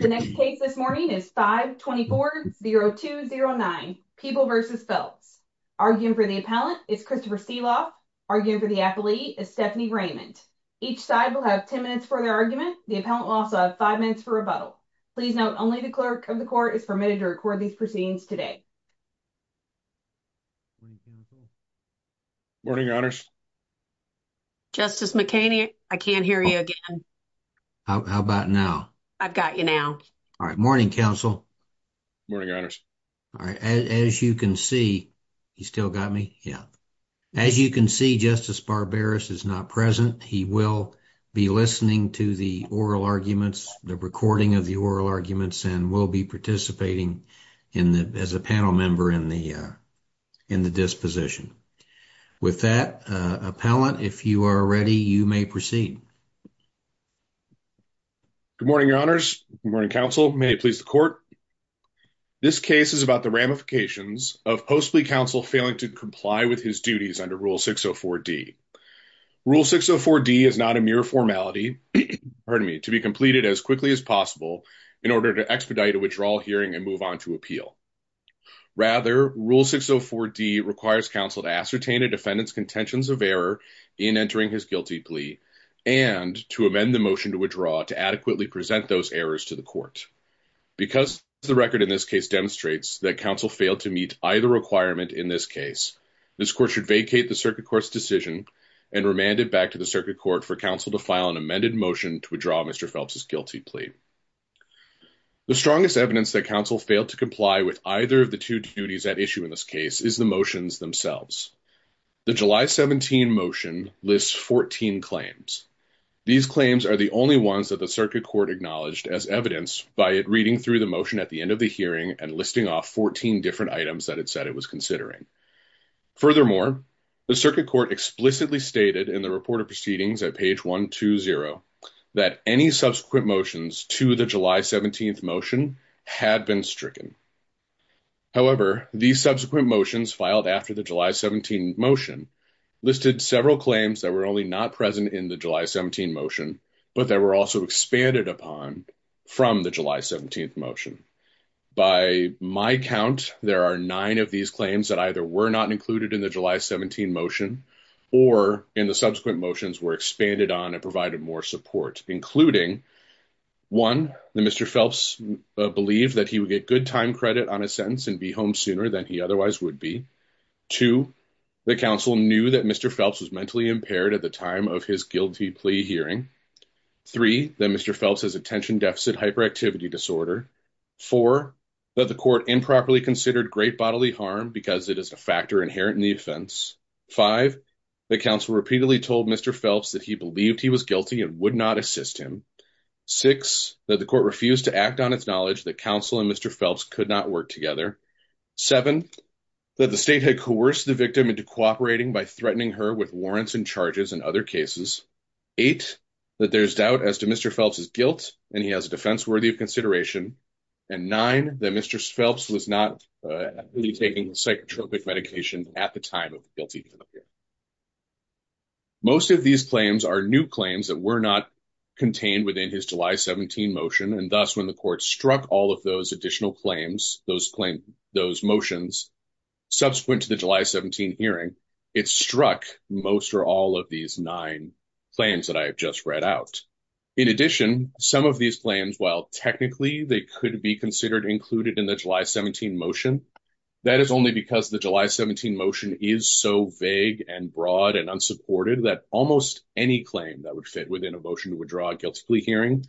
The next case this morning is 524-0209, People v. Phelps. Arguing for the appellant is Christopher Seeloff. Arguing for the affilee is Stephanie Raymond. Each side will have 10 minutes for their argument. The appellant will also have five minutes for rebuttal. Please note, only the clerk of the court is permitted to record these proceedings today. Morning, Your Honors. Justice McHaney, I can't hear you again. How about now? I've got you now. All right, morning, counsel. Morning, Your Honors. All right, as you can see, he's still got me? Yeah. As you can see, Justice Barberis is not present. He will be listening to the oral arguments, the recording of the oral arguments, and will be participating as a panel member in the disposition. With that, appellant, if you are ready, you may proceed. Good morning, Your Honors. Good morning, counsel. May it please the court. This case is about the ramifications of post-plea counsel failing to comply with his duties under Rule 604D. Rule 604D is not a mere formality, pardon me, to be completed as quickly as possible in order to expedite a withdrawal hearing and move on to appeal. Rather, Rule 604D requires counsel to ascertain a defendant's contentions of error in entering his guilty plea and to make and to amend the motion to withdraw to adequately present those errors to the court. Because the record in this case demonstrates that counsel failed to meet either requirement in this case, this court should vacate the circuit court's decision and remand it back to the circuit court for counsel to file an amended motion to withdraw Mr. Phelps' guilty plea. The strongest evidence that counsel failed to comply with either of the two duties at issue in this case is the motions themselves. The July 17 motion lists 14 claims. These claims are the only ones that the circuit court acknowledged as evidence by it reading through the motion at the end of the hearing and listing off 14 different items that it said it was considering. Furthermore, the circuit court explicitly stated in the report of proceedings at page 120 that any subsequent motions to the July 17 motion had been stricken. However, these subsequent motions filed after the July 17 motion listed several claims that were only not present in the July 17 motion, but that were also expanded upon from the July 17 motion. By my count, there are nine of these claims that either were not included in the July 17 motion or in the subsequent motions were expanded on and provided more support, including one, that Mr. Phelps believed that he would get good time credit on his sentence and be home sooner than he otherwise would be. Two, the counsel knew that Mr. Phelps was mentally impaired at the time of his guilty plea hearing. Three, that Mr. Phelps has attention deficit hyperactivity disorder. Four, that the court improperly considered great bodily harm because it is a factor inherent in the offense. Five, the counsel repeatedly told Mr. Phelps that he believed he was guilty and would not assist him. Six, that the court refused to act on its knowledge that counsel and Mr. Phelps could not work together. Seven, that the state had coerced the victim into cooperating by threatening her with warrants and charges in other cases. Eight, that there's doubt as to Mr. Phelps' guilt and he has a defense worthy of consideration. And nine, that Mr. Phelps was not really taking psychotropic medication at the time of guilty plea hearing. Most of these claims are new claims that were not contained within his July 17 motion. And thus, when the court struck all of those additional claims, those motions, subsequent to the July 17 hearing, it struck most or all of these nine claims that I have just read out. In addition, some of these claims, while technically they could be considered included in the July 17 motion, that is only because the July 17 motion is so vague and broad and unsupported that almost any claim that would fit within a motion to withdraw a guilty plea hearing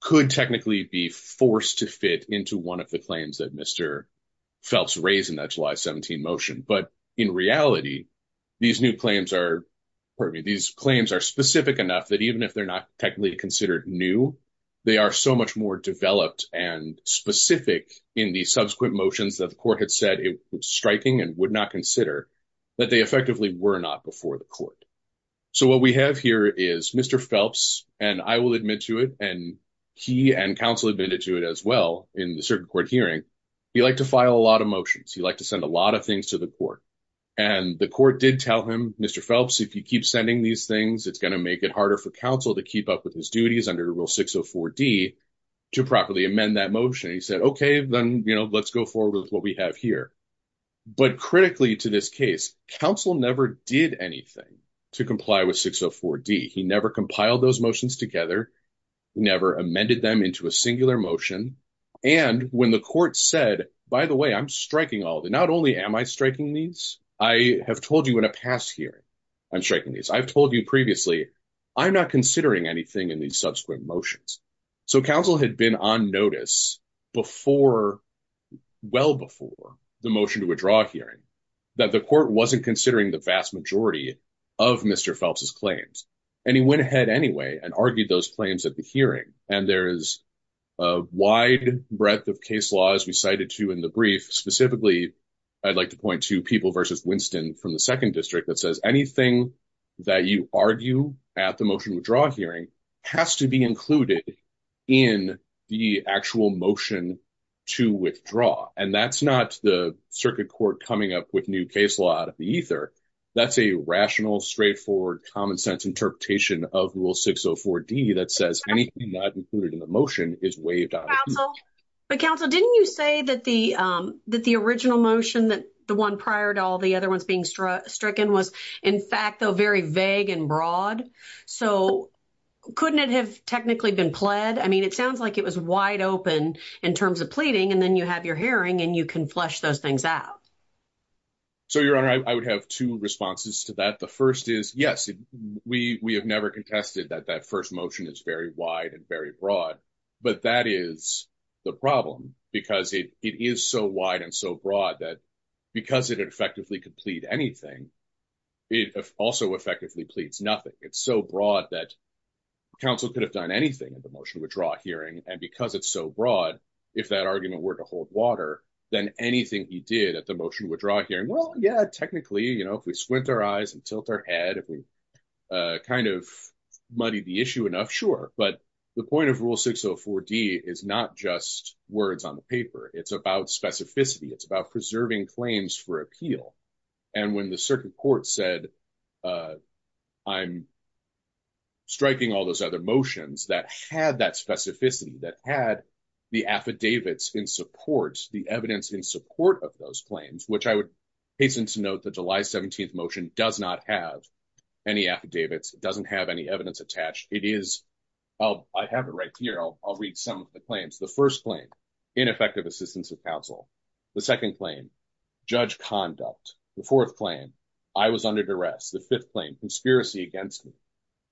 could technically be forced to fit into one of the claims that Mr. Phelps raised in that July 17 motion. But in reality, these new claims are, pardon me, these claims are specific enough that even if they're not technically considered new, they are so much more developed and specific in the subsequent motions that the court had said it was striking and would not consider that they effectively were not before the court. So what we have here is Mr. Phelps, and I will admit to it, and he and counsel admitted to it as well in the circuit court hearing, he liked to file a lot of motions. He liked to send a lot of things to the court. And the court did tell him, Mr. Phelps, if you keep sending these things, it's gonna make it harder for counsel to keep up with his duties under Rule 604D to properly amend that motion. He said, okay, then, you know, let's go forward with what we have here. But critically to this case, counsel never did anything to comply with 604D. He never compiled those motions together, never amended them into a singular motion. And when the court said, by the way, I'm striking all the, not only am I striking these, I have told you in a past hearing, I'm striking these. I've told you previously, I'm not considering anything in these subsequent motions. So counsel had been on notice before, well before the motion to withdraw hearing that the court wasn't considering the vast majority of Mr. Phelps's claims. And he went ahead anyway and argued those claims at the hearing. And there is a wide breadth of case laws we cited to in the brief. Specifically, I'd like to point to People v. Winston from the second district that says, anything that you argue at the motion withdraw hearing has to be included in the actual motion to withdraw. And that's not the circuit court coming up with new case law out of the ether. That's a rational, straightforward, common sense interpretation of rule 604D that says anything not included in the motion is waived out of the ether. But counsel, didn't you say that the original motion, that the one prior to all the other ones being stricken was in fact though, very vague and broad. So couldn't it have technically been pled? I mean, it sounds like it was wide open in terms of pleading and then you have your hearing and you can flush those things out. So Your Honor, I would have two responses to that. The first is, yes, we have never contested that that first motion is very wide and very broad, but that is the problem because it is so wide and so broad that because it effectively could plead anything, it also effectively pleads nothing. It's so broad that counsel could have done anything at the motion withdraw hearing. And because it's so broad, if that argument were to hold water, then anything he did at the motion withdraw hearing, well, yeah, technically, if we squint our eyes and tilt our head, if we kind of muddy the issue enough, sure. But the point of Rule 604D is not just words on the paper. It's about specificity. It's about preserving claims for appeal. And when the circuit court said, I'm striking all those other motions that had that specificity, that had the affidavits in support, the evidence in support of those claims, which I would hasten to note that July 17th motion does not have any affidavits. It doesn't have any evidence attached. It is, I have it right here. I'll read some of the claims. The first claim, ineffective assistance of counsel. The second claim, judge conduct. The fourth claim, I was under duress. The fifth claim, conspiracy against me.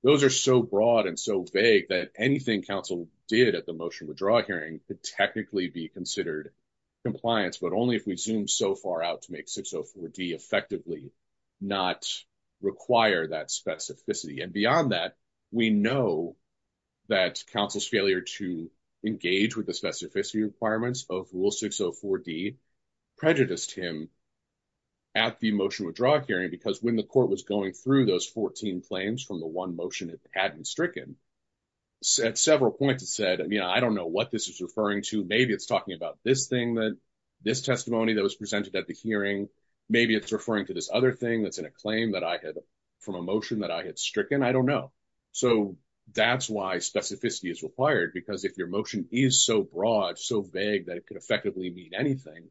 Those are so broad and so vague that anything counsel did at the motion withdraw hearing could technically be considered compliance, but only if we zoom so far out to make 604D effectively not require that specificity. And beyond that, we know that counsel's failure to engage with the specificity requirements of Rule 604D prejudiced him at the motion withdraw hearing, because when the court was going through those 14 claims from the one motion it hadn't stricken, at several points it said, I don't know what this is referring to. Maybe it's talking about this thing that, this testimony that was presented at the hearing. Maybe it's referring to this other thing that's in a claim that I had from a motion that I had stricken, I don't know. So that's why specificity is required, because if your motion is so broad, so vague that it could effectively mean anything,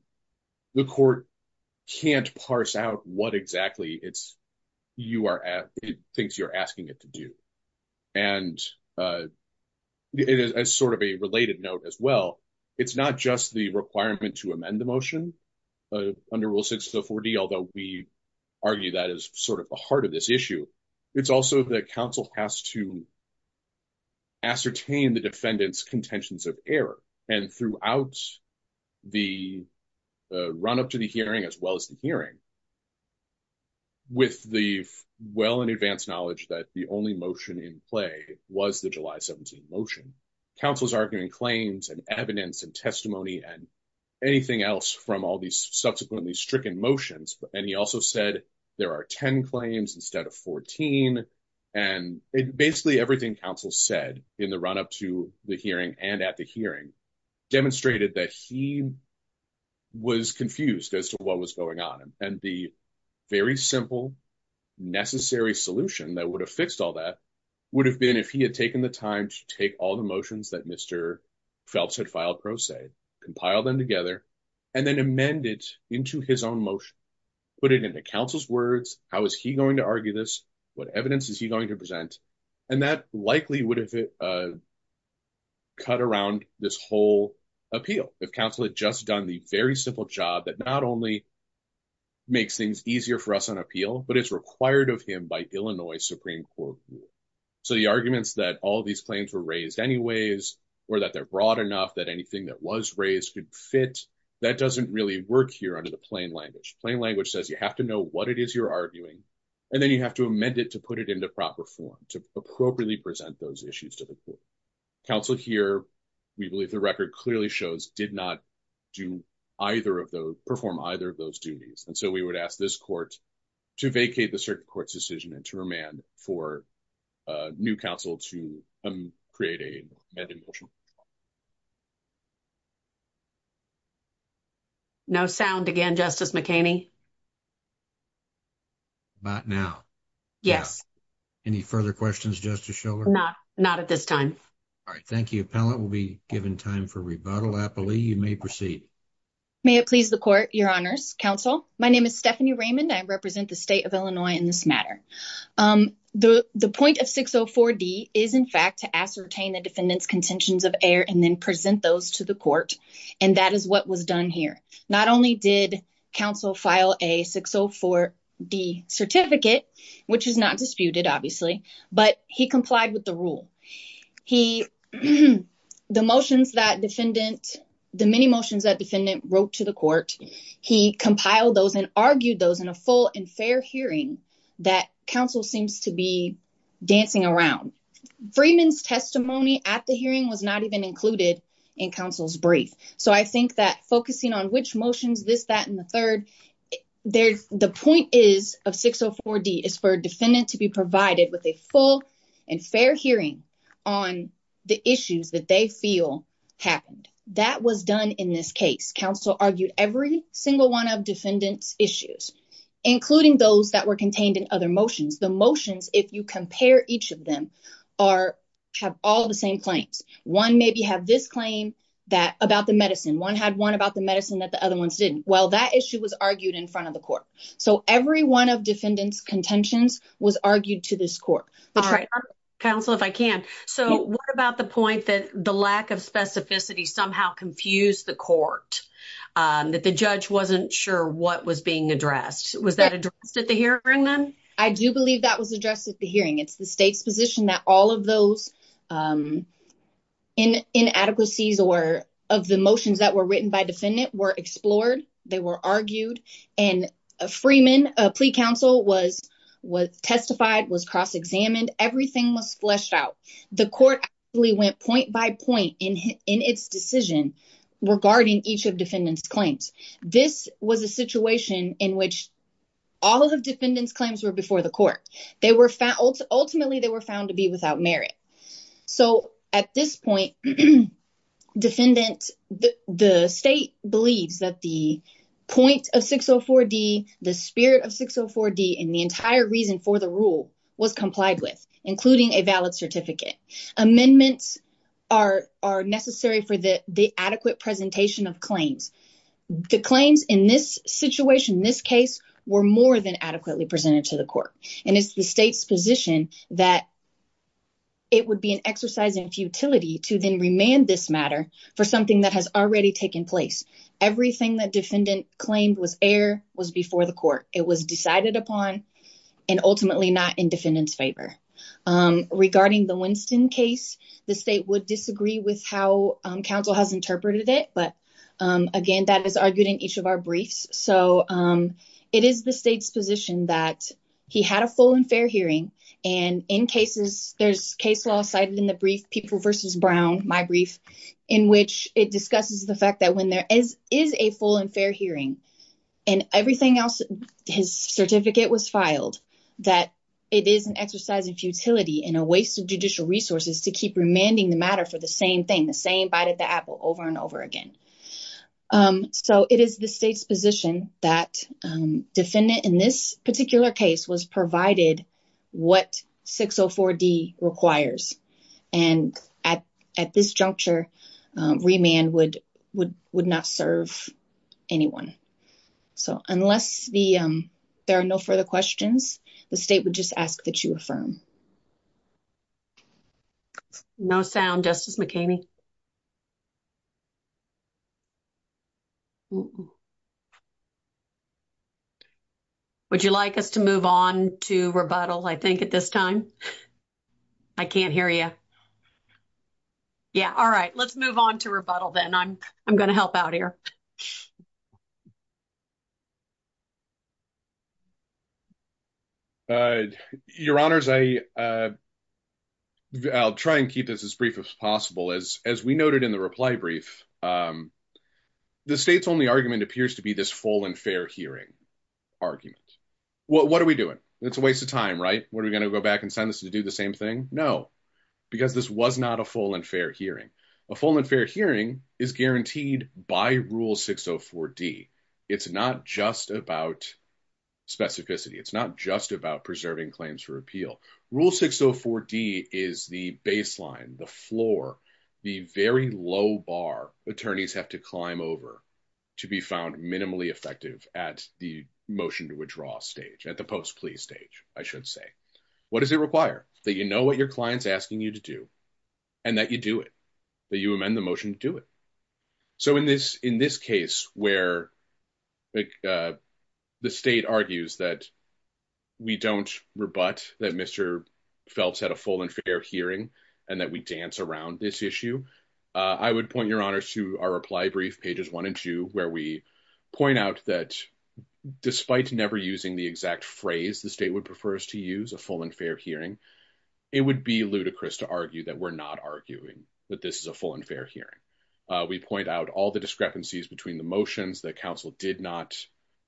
the court can't parse out what exactly it thinks you're asking it to do. And as sort of a related note as well, it's not just the requirement to amend the motion under Rule 604D, although we argue that is sort of the heart of this issue. It's also that counsel has to ascertain the defendant's contentions of error. And throughout the run-up to the hearing, as well as the hearing, with the well in advance knowledge that the only motion in play was the July 17 motion, counsel's arguing claims and evidence and testimony and anything else from all these subsequently stricken motions. And he also said, there are 10 claims instead of 14. And basically everything counsel said in the run-up to the hearing and at the hearing demonstrated that he was confused as to what was going on. And the very simple, necessary solution that would have fixed all that would have been if he had taken the time to take all the motions that Mr. Phelps had filed pro se, compile them together and then amend it into his own motion, put it into counsel's words, how is he going to argue this? What evidence is he going to present? And that likely would have cut around this whole appeal if counsel had just done the very simple job that not only makes things easier for us on appeal, but it's required of him by Illinois Supreme Court rule. So the arguments that all of these claims were raised anyways, or that they're broad enough that anything that was raised could fit, that doesn't really work here under the plain language. Plain language says you have to know what it is you're arguing, and then you have to amend it to put it into proper form to appropriately present those issues to the court. Counsel here, we believe the record clearly shows did not perform either of those duties. And so we would ask this court to vacate the circuit court's decision and to remand for a new counsel to create an amended motion. No sound again, Justice McHaney. About now. Yes. Any further questions, Justice Schiller? Not, not at this time. All right, thank you. Appellant will be given time for rebuttal. Applee, you may proceed. May it please the court, your honors, counsel. My name is Stephanie Raymond. I represent the state of Illinois in this matter. The point of 604D is in fact to ascertain the defendant's contentions of error and then present those to the court. And that is what was done here. Not only did counsel file a 604D certificate, which is not disputed, obviously, but he complied with the rule. He, the motions that defendant, the many motions that defendant wrote to the court, he compiled those and argued those in a full and fair hearing that counsel seems to be dancing around. Freeman's testimony at the hearing was not even included in counsel's brief. So I think that focusing on which motions, this, that, and the third, the point is of 604D is for a defendant to be provided with a full and fair hearing on the issues that they feel happened. That was done in this case. Counsel argued every single one of defendant's issues, including those that were contained in other motions. The motions, if you compare each of them, are, have all the same claims. One maybe have this claim that, about the medicine. One had one about the medicine that the other ones didn't. Well, that issue was argued in front of the court. So every one of defendant's contentions was argued to this court. All right. Counsel, if I can. So what about the point that the lack of specificity somehow confused the court? That the judge wasn't sure what was being addressed. Was that addressed at the hearing then? I do believe that was addressed at the hearing. It's the state's position that all of those in inadequacies or of the motions that were written by defendant were explored. They were argued and a Freeman, a plea counsel was testified, was cross-examined. Everything was fleshed out. The court actually went point by point in its decision regarding each of defendant's claims. This was a situation in which all of the defendant's claims were before the court. They were found, ultimately they were found to be without merit. So at this point, defendant, the state believes that the point of 604 D, the spirit of 604 D and the entire reason for the rule was complied with, including a valid certificate. Amendments are necessary for the adequate presentation of claims. The claims in this situation, this case were more than adequately presented to the court. And it's the state's position that it would be an exercise in futility to then remand this matter for something that has already taken place. Everything that defendant claimed was air was before the court. It was decided upon and ultimately not in defendant's favor. Regarding the Winston case, the state would disagree with how counsel has interpreted it. But again, that is argued in each of our briefs. So it is the state's position that he had a full and fair hearing. And in cases, there's case law cited in the brief, people versus Brown, my brief, in which it discusses the fact that when there is a full and fair hearing and everything else, his certificate was filed, that it is an exercise of futility and a waste of judicial resources to keep remanding the matter for the same thing, the same bite at the apple over and over again. So it is the state's position that defendant in this particular case was provided what 604 D requires. And at this juncture, remand would not serve anyone. So unless there are no further questions, the state would just ask that you affirm. No sound, Justice McKinney. Would you like us to move on to rebuttal? I think at this time. I can't hear you. Yeah, all right. Let's move on to rebuttal then. I'm gonna help out here. Your honors, I'll try and keep this as brief as possible. As we noted in the reply brief, the state's only argument appears to be this full and fair hearing argument. What are we doing? It's a waste of time, right? What are we gonna go back and send this to do the same thing? No, because this was not a full and fair hearing. A full and fair hearing is guaranteed by rule 604 D. It's not just about specificity. It's not just about preserving claims for appeal. Rule 604 D is the baseline, the floor, the very low bar attorneys have to climb over to be found minimally effective at the motion to withdraw stage, at the post plea stage, I should say. What does it require? That you know what your client's asking you to do and that you do it, that you amend the motion to do it. So in this case where the state argues that we don't rebut that Mr. Phelps had a full and fair hearing and that we dance around this issue, I would point your honors to our reply brief, pages one and two, where we point out that despite never using the exact phrase the state would prefer us to use, a full and fair hearing, it would be ludicrous to argue that we're not arguing that this is a full and fair hearing. We point out all the discrepancies between the motions that counsel did not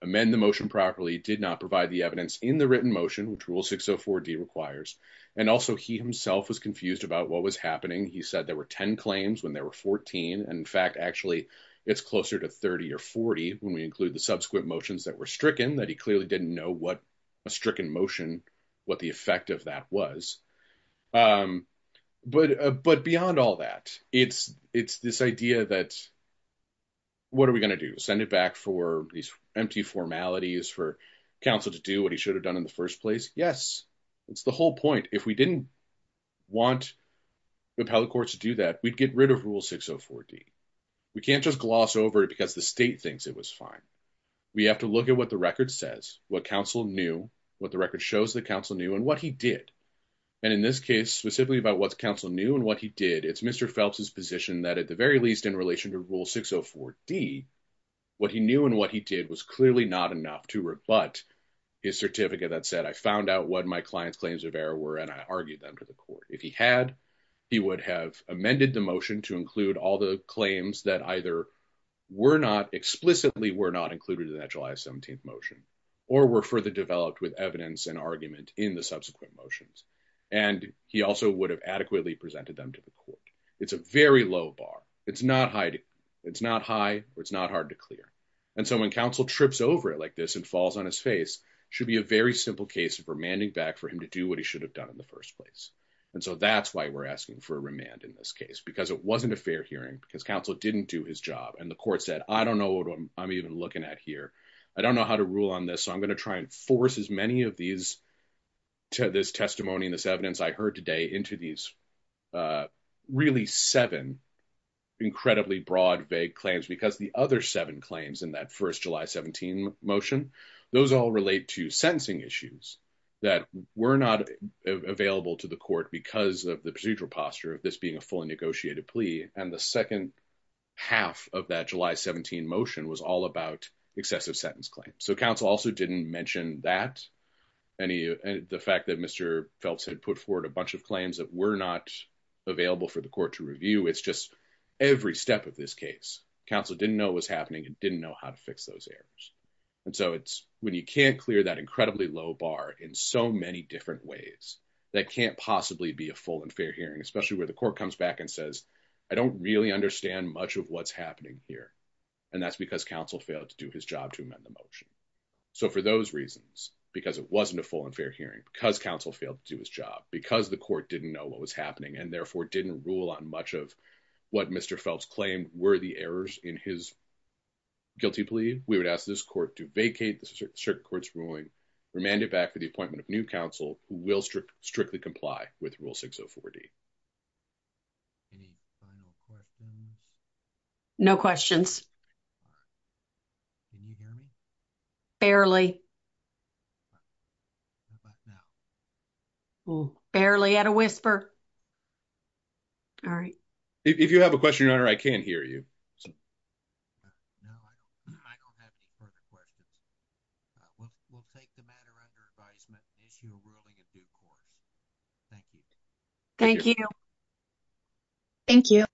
amend the motion properly, did not provide the evidence in the written motion, which rule 604 D requires. And also he himself was confused about what was happening. He said there were 10 claims when there were 14. And in fact, actually it's closer to 30 or 40 when we include the subsequent motions that were stricken that he clearly didn't know what a stricken motion, what the effect of that was. But beyond all that, it's this idea that what are we gonna do? Send it back for these empty formalities for counsel to do what he should have done in the first place? Yes, it's the whole point. If we didn't want the appellate courts to do that, we'd get rid of rule 604 D. We can't just gloss over it and the state thinks it was fine. We have to look at what the record says, what counsel knew, what the record shows the counsel knew and what he did. And in this case, specifically about what's counsel knew and what he did, it's Mr. Phelps's position that at the very least in relation to rule 604 D, what he knew and what he did was clearly not enough to rebut his certificate that said, I found out what my client's claims of error were and I argued them to the court. If he had, he would have amended the motion to include all the claims that either were not, explicitly were not included in that July 17th motion or were further developed with evidence and argument in the subsequent motions. And he also would have adequately presented them to the court. It's a very low bar. It's not high. It's not high or it's not hard to clear. And so when counsel trips over it like this and falls on his face, should be a very simple case of remanding back for him to do what he should have done in the first place. And so that's why we're asking for a remand in this case because it wasn't a fair hearing because counsel didn't do his job. And the court said, I don't know what I'm even looking at here. I don't know how to rule on this. So I'm gonna try and force as many of these to this testimony and this evidence I heard today into these really seven incredibly broad vague claims because the other seven claims in that first July 17th motion, those all relate to sentencing issues that were not available to the court because of the procedural posture of this being a fully negotiated plea. And the second half of that July 17 motion was all about excessive sentence claims. So counsel also didn't mention that. The fact that Mr. Phelps had put forward a bunch of claims that were not available for the court to review. It's just every step of this case, counsel didn't know what was happening and didn't know how to fix those errors. And so it's when you can't clear that incredibly low bar in so many different ways that can't possibly be a full and fair hearing, especially where the court comes back and says, I don't really understand much of what's happening here. And that's because counsel failed to do his job to amend the motion. So for those reasons, because it wasn't a full and fair hearing, because counsel failed to do his job, because the court didn't know what was happening and therefore didn't rule on much of what Mr. Phelps claimed were the errors in his guilty plea, we would ask this court to vacate the circuit court's ruling, remand it back to the appointment of new counsel who will strictly comply with Rule 604D. Any final questions? No questions. Can you hear me? Barely. What about now? Barely at a whisper. All right. If you have a question, Your Honor, I can't hear you. No, I don't have any further questions. We'll take the matter under advisement, and issue a ruling at due course. Thank you. Thank you. Thank you.